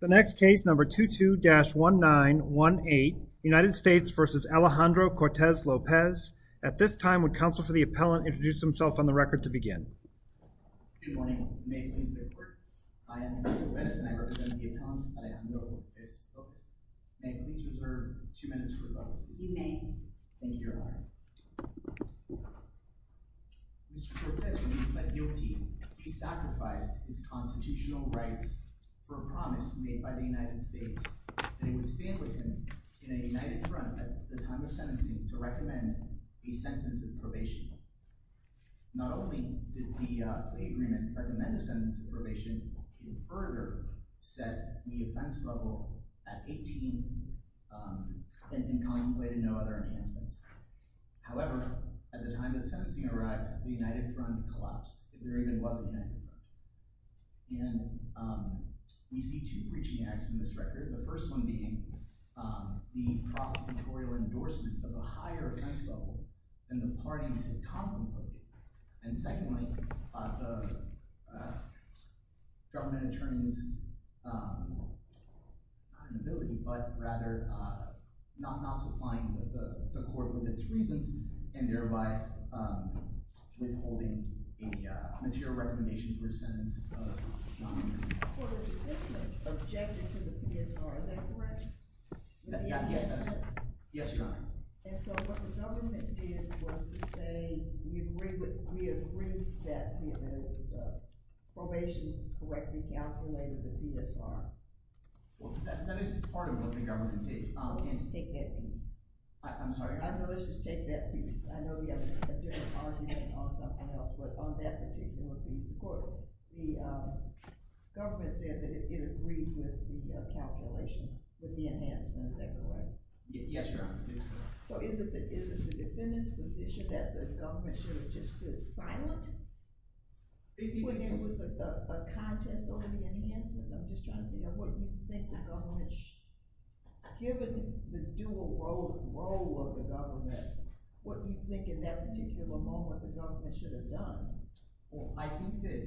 The next case number 22-1918, United States v. Alejandro Cortes-Lopez. At this time, would counsel for the appellant introduce himself on the record to begin. Good morning. May it please the court. I am Alejandro Cortes-Lopez and I represent the appellant, Alejandro Cortes-Lopez. May it please reserve two minutes for rebuttal. Mr. Cortes, when he pled guilty, he sacrificed his constitutional rights for a promise made by the United States that he would stand with him in a united front at the time of sentencing to recommend a sentence of probation. Not only did the agreement recommend a sentence of probation, it further set the offense level at 18 and contemplated no other enhancements. However, at the time that sentencing arrived, the united front collapsed. There even was a united front. And we see two breaching acts in this record. The first one being the prosecutorial endorsement of a higher offense level than the parties had contemplated. And secondly, the government attorney's, not inability, but rather not supplying the court with its reasons and thereby withholding a material recommendation for a sentence. Well, the government objected to the PSR, is that correct? Yes, that's correct. Yes, your honor. And so what the government did was to say we agree that the probation correctly calculated the PSR. Well, that is part of what the government did. I'll attempt to take that piece. I'm sorry. Let's just take that piece. I know we have a different argument on something else, but on that particular piece, the government said that it agreed with the calculation, with the enhancements, is that correct? Yes, your honor. So is it the defendant's position that the government should have just stood silent when there was a contest over the enhancements? I'm just trying to figure out what you think. The government, given the dual role of the government, what do you think in that particular moment the government should have done? Well, I think that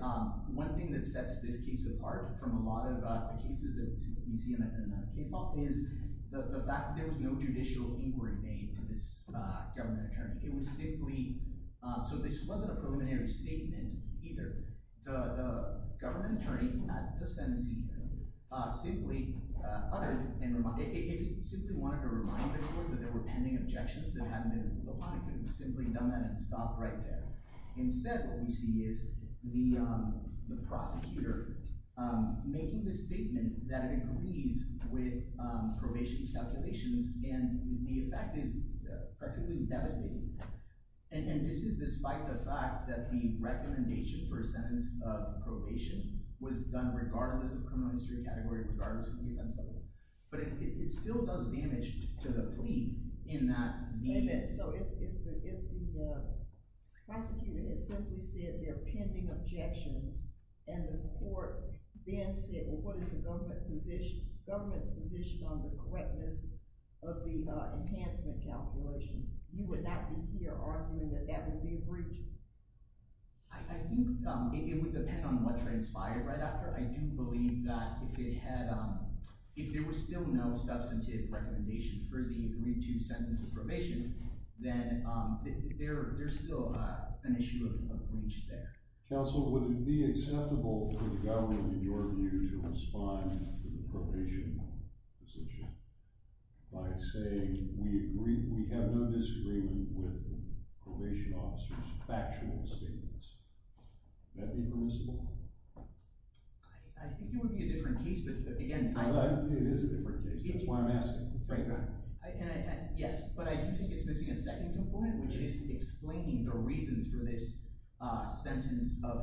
one thing that sets this case apart from a lot of the cases that we see in the case law is the fact that there was no judicial inquiry made to this government attorney. It was simply, so this wasn't a preliminary statement either. The government attorney at the sentencing simply uttered, simply wanted to remind the court that there were pending objections that hadn't been ruled upon. It could have simply done that and stopped right there. Instead, what we see is the prosecutor making this statement that it agrees with probation's calculations, and the effect is practically devastating. And this is despite the fact that the recommendation for a sentence of probation was done regardless of criminal history category, regardless of the defense level. But it still does damage to the plea in that. So if the prosecutor had simply said there are pending objections, and the court then said, well, what is the government's position on the correctness of the enhancement calculations, you would not be here arguing that that would be a breach? I think it would depend on what transpired right after. I do believe that if it had, if there was still no substantive recommendation for the 3-2 sentence of probation, then there's still an issue of breach there. Counsel, would it be acceptable for the government in your view to respond to the probation position by saying, we agree, we have no disagreement with probation officers' factual statements? Would that be permissible? I think it would be a different case, but again, I— It is a different case. That's why I'm asking. Yes, but I do think it's missing a second component, which is explaining the reasons for this sentence of—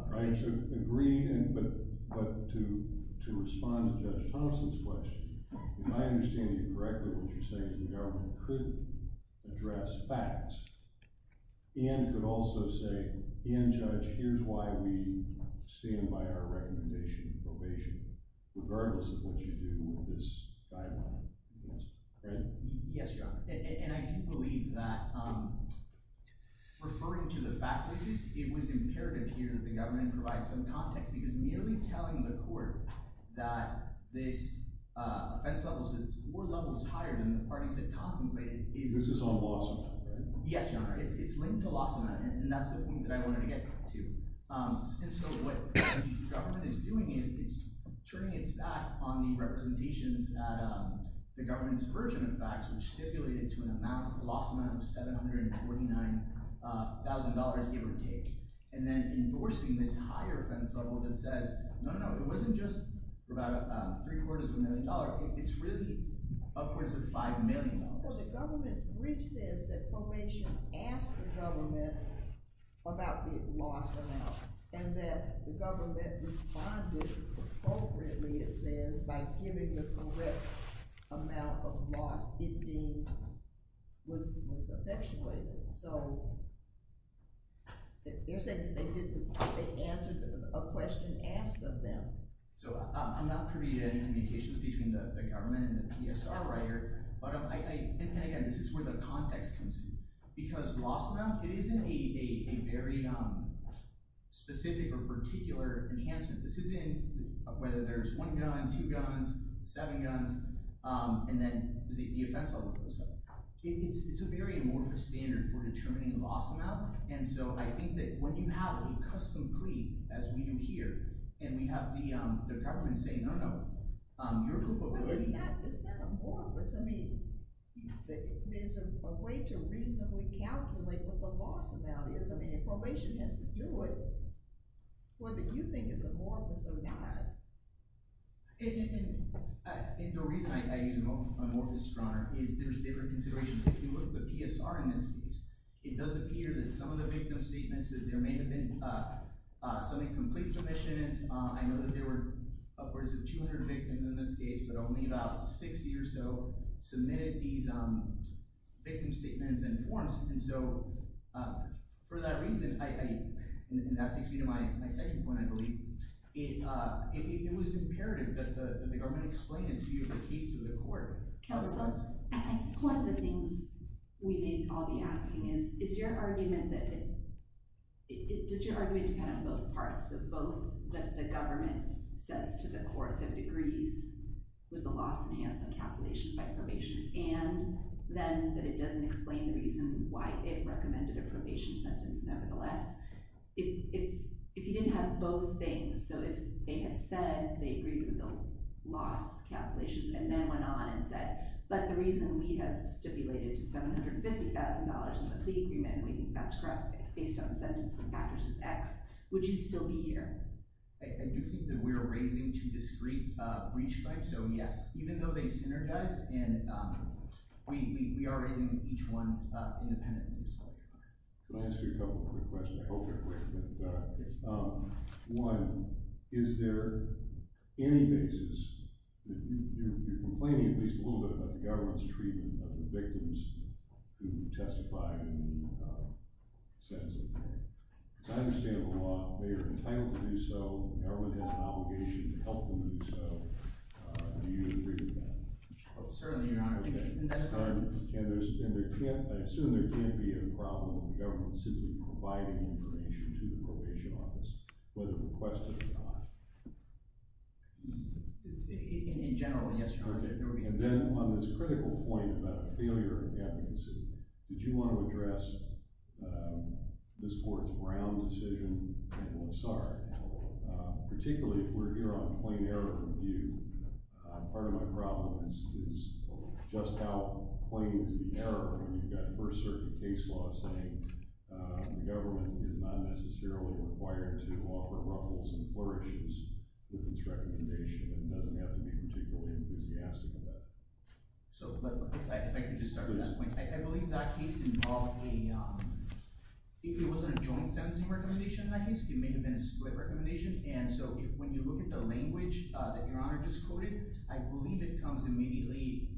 Agreed, but to respond to Judge Thomson's question, if I understand you correctly, what you're saying is the government could address facts and could also say, and Judge, here's why we stand by our recommendation of probation, regardless of what you do with this guideline, right? Yes, Your Honor, and I do believe that referring to the facts of the case, it was imperative here that the government provide some context, because merely telling the court that this offense level is four levels higher than the parties had contemplated is— This is on loss amount, right? Yes, Your Honor, it's linked to loss amount, and that's the point that I wanted to get to. And so what the government is doing is it's turning its back on the representations at the government's version of facts, which stipulated to a loss amount of $749,000 give or take, and then endorsing this higher offense level that says, no, no, no, it wasn't just about three-quarters of a million dollars, it's really upwards of $5 million. Well, the government's brief says that probation asked the government about the loss amount, and that the government responded appropriately, it says, by giving the correct amount of loss it was effectuated. So you're saying that they answered a question asked of them? So I'm not privy to any communications between the government and the PSR writer, but again, this is where the context comes in. Because loss amount, it isn't a very specific or particular enhancement. This isn't whether there's one gun, two guns, seven guns, and then the offense level goes up. It's a very amorphous standard for determining a loss amount, and so I think that when you have a custom plea, as we do here, and we have the government say, no, no, your group of lawyers— But isn't that amorphous? I mean, there's a way to reasonably calculate what the loss amount is. So then if probation has to do it, what do you think is amorphous or not? And the reason I use amorphous, Your Honor, is there's different considerations. If you look at the PSR in this case, it does appear that some of the victim statements, that there may have been some incomplete submissions. I know that there were upwards of 200 victims in this case, but only about 60 or so submitted these victim statements and forms. And so for that reason, and that takes me to my second point, I believe, it was imperative that the government explain its view of the case to the court. Counsel, one of the things we may all be asking is, is your argument that—does your argument depend on both parts? So both that the government says to the court that it agrees with the loss enhancement calculation by probation, and then that it doesn't explain the reason why it recommended a probation sentence nevertheless? If you didn't have both things, so if they had said they agreed with the loss calculations and then went on and said, but the reason we have stipulated $750,000 in the plea agreement, we think that's correct based on the sentence, the factors is X, would you still be here? I do think that we're raising too discrete a breach claim. So yes, even though they synergize, and we are raising each one independently. Can I ask you a couple more questions? I hope they're quick. One, is there any basis—you're complaining at least a little bit about the government's treatment of the victims who testified in the sentencing. Because I understand the law, they are entitled to do so, and everyone has an obligation to help them do so. Do you agree with that? Certainly, Your Honor. I assume there can't be a problem with the government simply providing information to the probation office, whether requested or not? In general, yes, Your Honor. And then on this critical point about a failure of advocacy, did you want to address this court's Brown decision—sorry, particularly if we're here on plain error of view. Part of my problem is just how plain is the error when you've got first-circuit case law saying the government is not necessarily required to offer ruffles and flourishes with its recommendation. It doesn't have to be particularly enthusiastic about it. So if I could just start with that point. I believe that case involved a—if it wasn't a joint sentencing recommendation in that case, it may have been a split recommendation. And so when you look at the language that Your Honor just quoted, I believe it comes immediately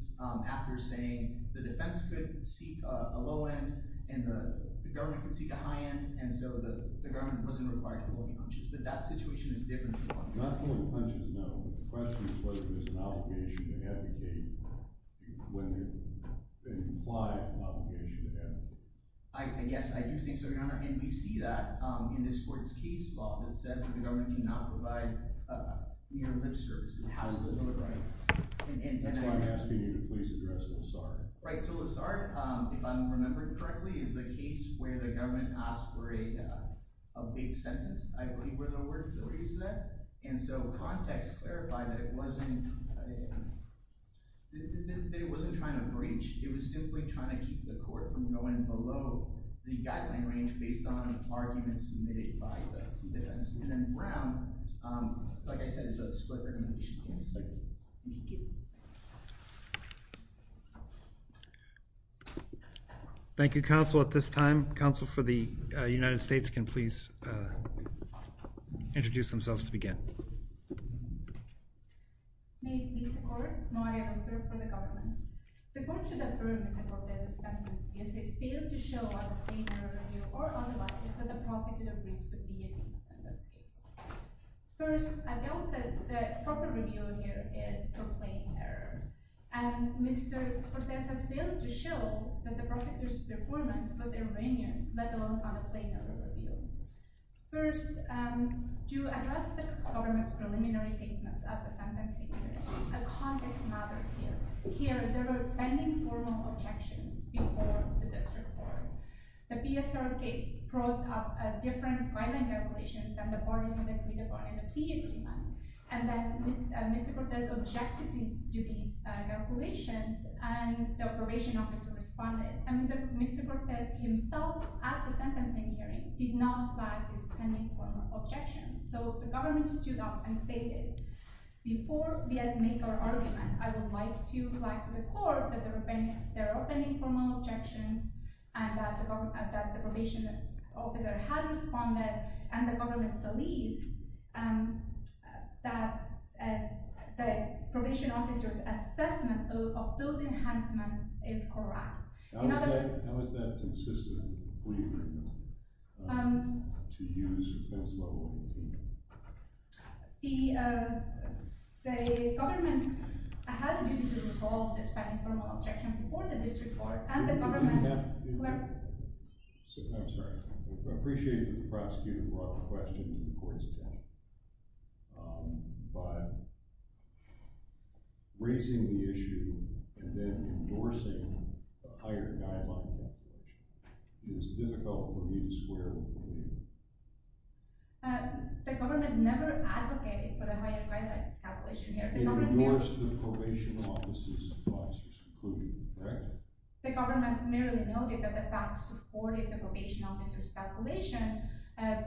after saying the defense could seek a low end and the government could seek a high end, and so the government wasn't required to pull any punches. But that situation is different. Not pulling punches, no, but the question is whether there's an obligation to advocate when there's an implied obligation to advocate. Yes, I do think so, Your Honor, and we see that in this court's case law that said that the government cannot provide near-lip service. It has to do with— That's why I'm asking you to please address Lessard. Right, so Lessard, if I'm remembering correctly, is the case where the government asked for a big sentence, I believe were the words that were used there. And so context clarified that it wasn't trying to breach. It was simply trying to keep the court from going below the guideline range based on arguments made by the defense. And then Brown, like I said, is a split recommendation. Thank you, counsel. At this time, counsel for the United States can please introduce themselves to begin. Thank you, Your Honor. May it please the court, Maria Doctor for the government. The court should affirm Mr. Cortes' sentence if he has failed to show a plain error review or otherwise that the prosecutor breached the DAP in this case. First, as I said, the proper review here is a plain error. And Mr. Cortes has failed to show that the prosecutor's performance was preliminary statements at the sentencing hearing. And context matters here. Here, there were pending formal objections before the district court. The PSRK brought up a different guideline calculation than the parties in the three-department plea agreement. And then Mr. Cortes objected to these calculations, and the probation officer responded. And Mr. Cortes himself at the sentencing hearing did not flag these pending formal objections. So the government stated, before we make our argument, I would like to flag to the court that there are pending formal objections, and that the probation officer had responded, and the government believes that the probation officer's assessment of those enhancements is correct. How is that consistent with the plea agreement to use offense level 18? The government had a duty to resolve this pending formal objection before the district court, and the government... I'm sorry. I appreciate the prosecutor brought the question to the court's higher guideline calculation. It is difficult for me to swear before you. The government never advocated for the higher guideline calculation here. It endorsed the probation officer's conclusion, correct? The government merely noted that the facts supported the probation officer's calculation,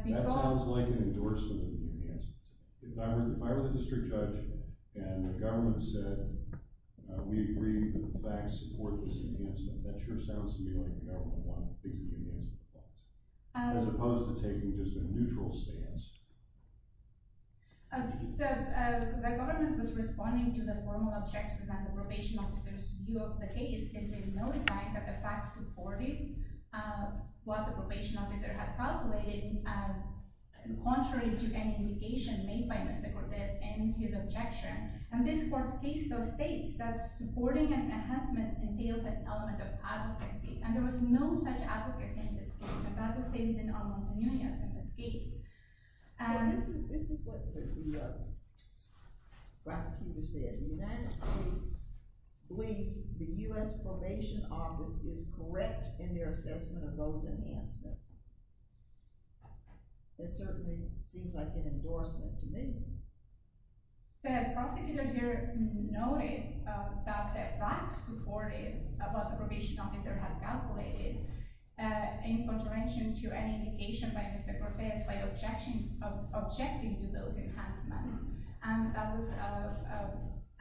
because... That sounds like an endorsement of the enhancements. If I were the district judge and the government said, we agree that the facts support this enhancement, that sure sounds to me like the government wanted things to be enhanced. As opposed to taking just a neutral stance. The government was responding to the formal objections that the probation officer's view of the case, and they notified that the facts supported what the probation officer had calculated, contrary to any indication made by Mr. Cortes in his objection. And this court states those supporting an enhancement entails an element of advocacy, and there was no such advocacy in this case, and that was stated in Arnold Munoz in this case. This is what the prosecutor said. The United States believes the U.S. probation office is correct in their assessment of those enhancements. That certainly seems like an endorsement to me. The prosecutor here noted that the facts supported what the probation officer had calculated, in contravention to any indication by Mr. Cortes, by objecting to those enhancements.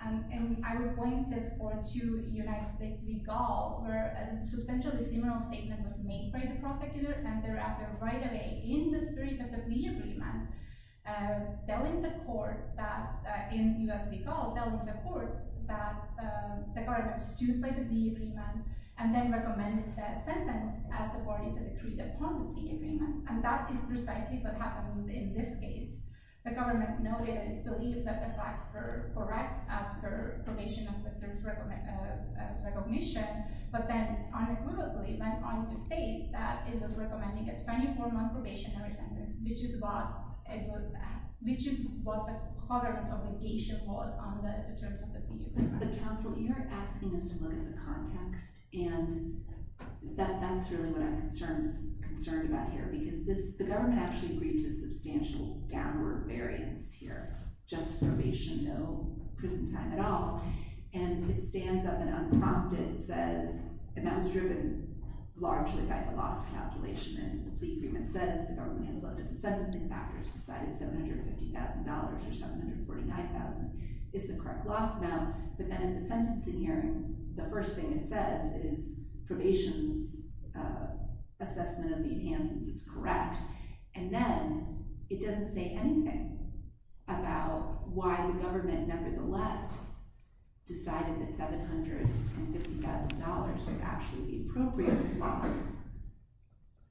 And I would point this court to United States v. Gall, where a substantially similar statement was made by the prosecutor, and thereafter, right away, in the spirit of the plea agreement, telling the court that, in U.S. v. Gall, telling the court that the government stooped by the plea agreement, and then recommended the sentence as the parties had agreed upon the plea agreement. And that is precisely what happened in this case. The government noted and believed that the facts were correct as per probation officer's recognition, but then unequivocally went on to state that it was recommending a 24-month probationary sentence, which is what the tolerance obligation was under the terms of the plea agreement. The counsel, you're asking us to look at the context, and that's really what I'm concerned about here, because the government actually agreed to a substantial downward variance here, just probation, no prison time at all. And it stands up and unprompted says, and that was driven largely by the loss calculation in the plea agreement, says the government has looked at the sentencing factors, decided $750,000 or $749,000 is the correct loss amount. But then in the sentencing hearing, the first thing it says is probation's assessment of the enhancements is correct. And then it doesn't say anything about why the $750,000 was actually the appropriate loss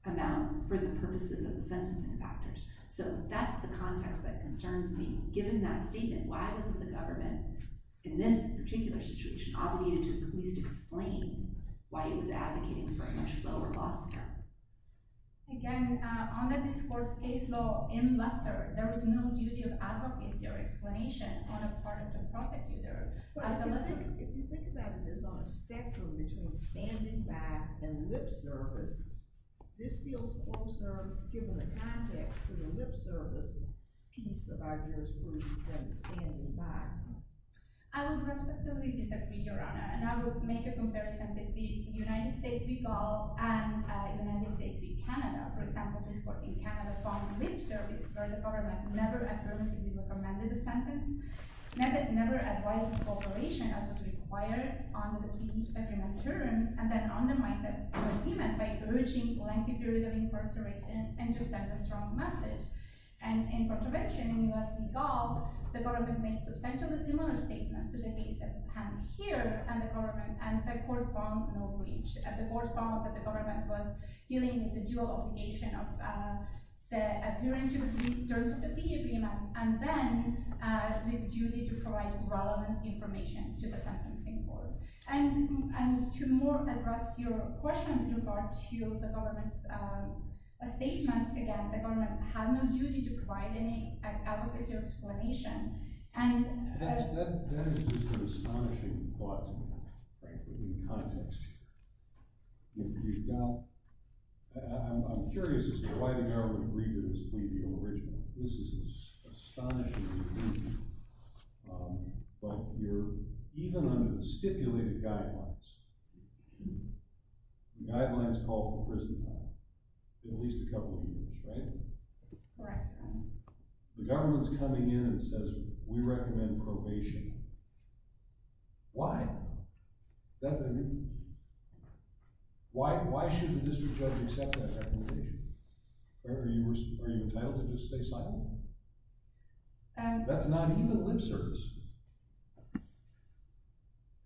amount for the purposes of the sentencing factors. So that's the context that concerns me. Given that statement, why wasn't the government in this particular situation obligated to at least explain why it was advocating for a much lower loss count? Again, on the discourse case law in Lester, there was no duty of advocacy or on a spectrum between standing back and lip service. This feels closer, given the context, to the lip service piece of our jurisprudence than standing back. I would respectively disagree, Your Honor, and I would make a comparison between the United States v. Gall and the United States v. Canada. For example, this court in Canada found lip service where the government never had rights of cooperation as was required under the plea agreement terms and then undermined the plea agreement by urging lengthy periods of incarceration and to send a strong message. And in contravention, in the U.S. v. Gall, the government made substantially similar statements to the case at hand here and the court found no breach. At the court found that the government was dealing with the dual obligation of the adherence to the terms of the plea agreement and then the duty to provide relevant information to the sentencing board. And to more address your question with regard to the government's statements, again, the government had no duty to provide any advocacy or explanation. That is just an astonishing thought to me, frankly, in context here. I'm curious as to why the government agreed to this plea deal originally. This is astonishing to me. But even under stipulated guidelines, the guidelines call for prison time, at least a couple of years, right? Right. The government's coming in and says we recommend probation. Why? Is that better? Why should the district judge accept that recommendation? Are you entitled to just stay silent? That's not even lip service.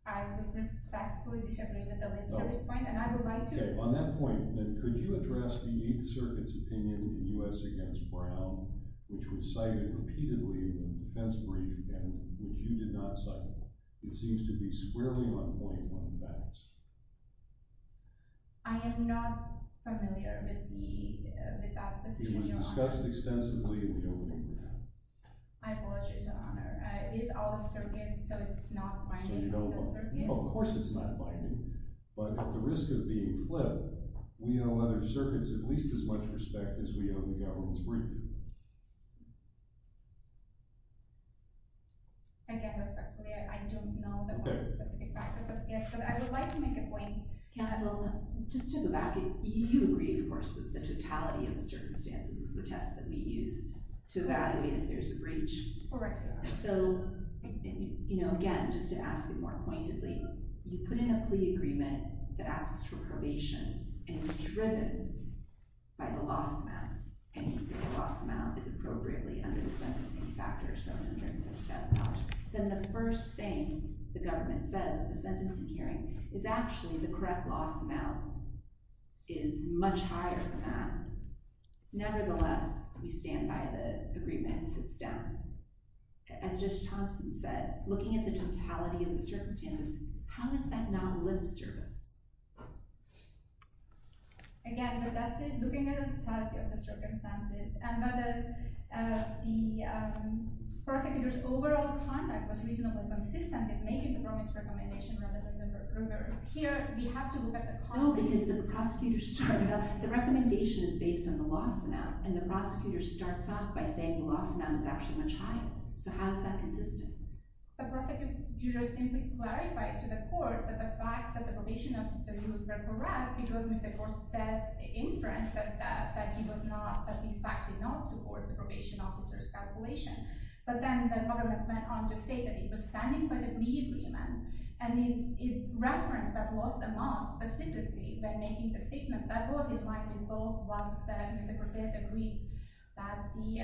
I would respectfully disagree with the lip service point and I would like to. On that point, could you address the Eighth Circuit's opinion in U.S. v. Brown, which was cited repeatedly in the defense brief and which you did not cite? It seems to be squarely on point on the balance. I am not familiar with that decision, Your Honor. It was discussed extensively in the opening briefing. I apologize, Your Honor. It is out of circuit, so it's not binding on the circuit. Of course it's not binding. But at the risk of being flipped, we owe other circuits at least as much respect as we owe the government's brief. Again, respectfully, I don't know the specific factors, but I would like to make a point. Counsel, just to go back, you agree, of course, that the totality of the circumstances is the test that we use to evaluate if there's a breach. Correct, Your Honor. So, again, just to ask it more pointedly, you put in a plea agreement that asks for probation and is driven by the loss amount, and you say the loss amount is appropriately under the sentencing factor, so $150,000. Then the first thing the government says at the sentencing hearing is actually the correct loss amount is much higher than that. Nevertheless, we stand by the agreement. It sits down. As Judge Thompson said, looking at the totality of the circumstances, how is that non-lip service? Again, the best is looking at the totality of the circumstances and whether the prosecutor's overall conduct was reasonably consistent in making the promise recommendation rather than the reverse. Here, we have to look at the… No, because the prosecutor's… The recommendation is based on the loss amount, and the prosecutor starts off by saying the loss amount is actually much higher. So, how is that consistent? The prosecutor simply clarified to the court that the facts of the probation officer use were correct because Mr. Cortez inferenced that he was not, that his facts did not support the probation officer's calculation. But then the government went on to state that he was standing by the plea agreement, and it referenced that loss amount specifically when making the statement that was in line with both what Mr. Cortez agreed that the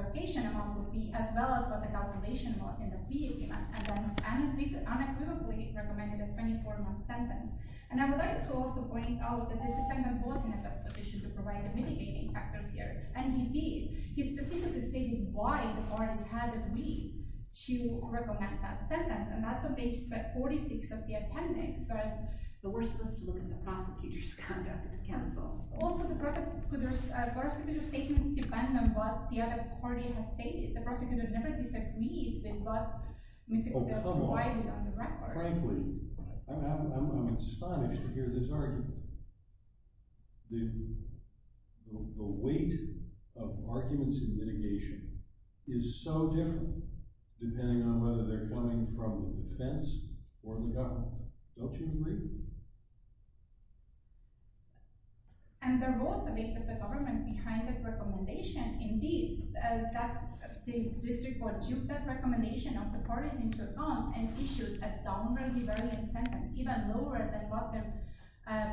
location amount would be as well as what the calculation was in the plea agreement, and then unequivocally recommended a 24-month sentence. And I would like to also point out that the defendant was in a best position to provide the mitigating factors here, and he did. He specifically stated why the parties had agreed to recommend that sentence, and that's on page 46 of the appendix. But we're supposed to look at the prosecutor's conduct at the council. Also, the prosecutor's statements depend on what the other party has stated. The prosecutor never disagreed with what Mr. Cortez provided on the record. Frankly, I'm astonished to hear this argument. The weight of arguments in mitigation is so different depending on whether they're coming from the defense or the government. Don't you agree? And the most of it is the government behind that recommendation. Indeed, the district court took that recommendation of the parties into account and issued a downrightly valiant sentence, even lower than what their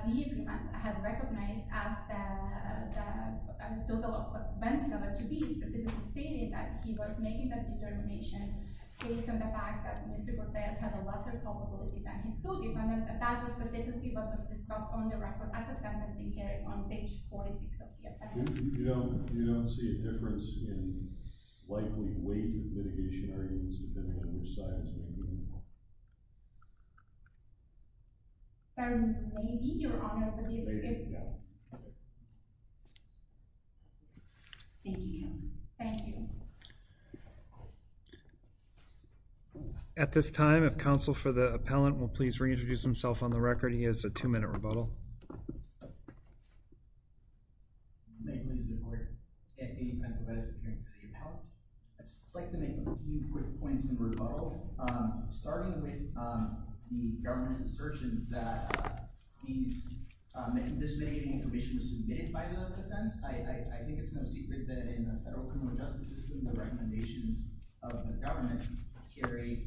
behavior had recognized as the total of $10,000 to be specifically stated that he was making that determination based on the fact that Mr. Cortez had a lesser probability than his school department. And that was specifically what was discussed on the record at the sentencing hearing on page 46 of the appendix. You don't see a difference in likely weight of mitigation arguments depending on which side is making them? There may be, Your Honor, but it's difficult. Thank you, counsel. Thank you. At this time, if counsel for the appellant will please reintroduce himself on the record. He has a two-minute rebuttal. May it please the court, Andy Pantovides, appearing for the appellant. I'd just like to make a few quick points in rebuttal. Starting with the government's assertions that this mitigating information was submitted by the defense, I think it's no secret that in a federal criminal justice system, the recommendations of the government carry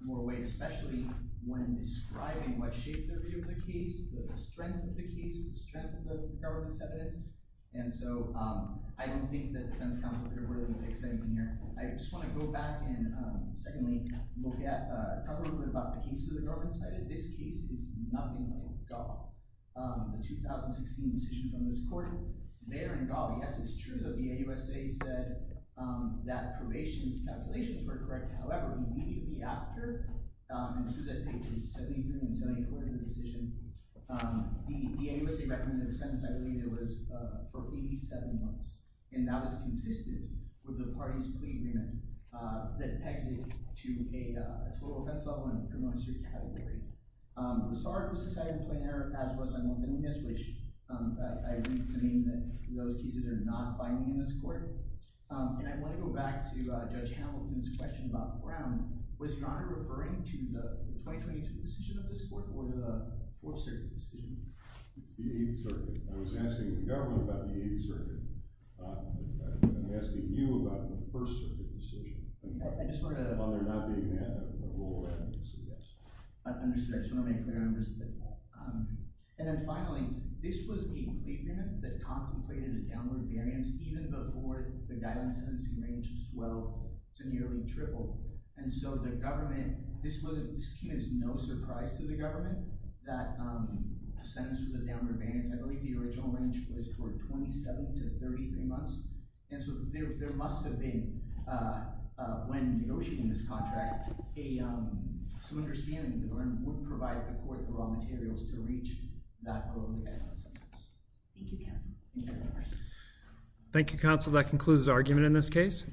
more weight, especially when describing what shaped their view of the case, the strength of the case, the strength of the government's evidence. And so I don't think that defense counsel could have really fixed anything here. I just want to go back and secondly, talk a little bit about the case that the government cited. This case is nothing like the 2016 decision from this court. Later in the trial, yes, it's true that the AUSA said that probation's calculations were correct. However, immediately after, and this is at pages 73 and 74 of the decision, the AUSA recommended a sentence I believe it was for 87 months, and that was consistent with the party's plea agreement that pegs it to a total penalty on the criminal history category. I'm sorry it was decided in plain error, as was I know in this case, which I read to mean that those cases are not binding in this court. And I want to go back to Judge Hamilton's question about Brown. Was your honor referring to the 2022 decision of this court or the Fourth Circuit decision? It's the Eighth Circuit. I was asking the government about the Eighth Circuit. I'm asking you about the First Circuit decision. I just want to make clear on this. And then finally, this was a plea agreement that contemplated a downward variance even before the guideline sentencing range swelled to nearly triple, and so the government, this came as no surprise to the government that the sentence was a downward variance. I believe the original range was for 27 to 33 months, and so there must have been when negotiating this contract, some understanding that the government wouldn't provide the court the raw materials to reach that goal. Thank you, counsel. That concludes the argument in this case.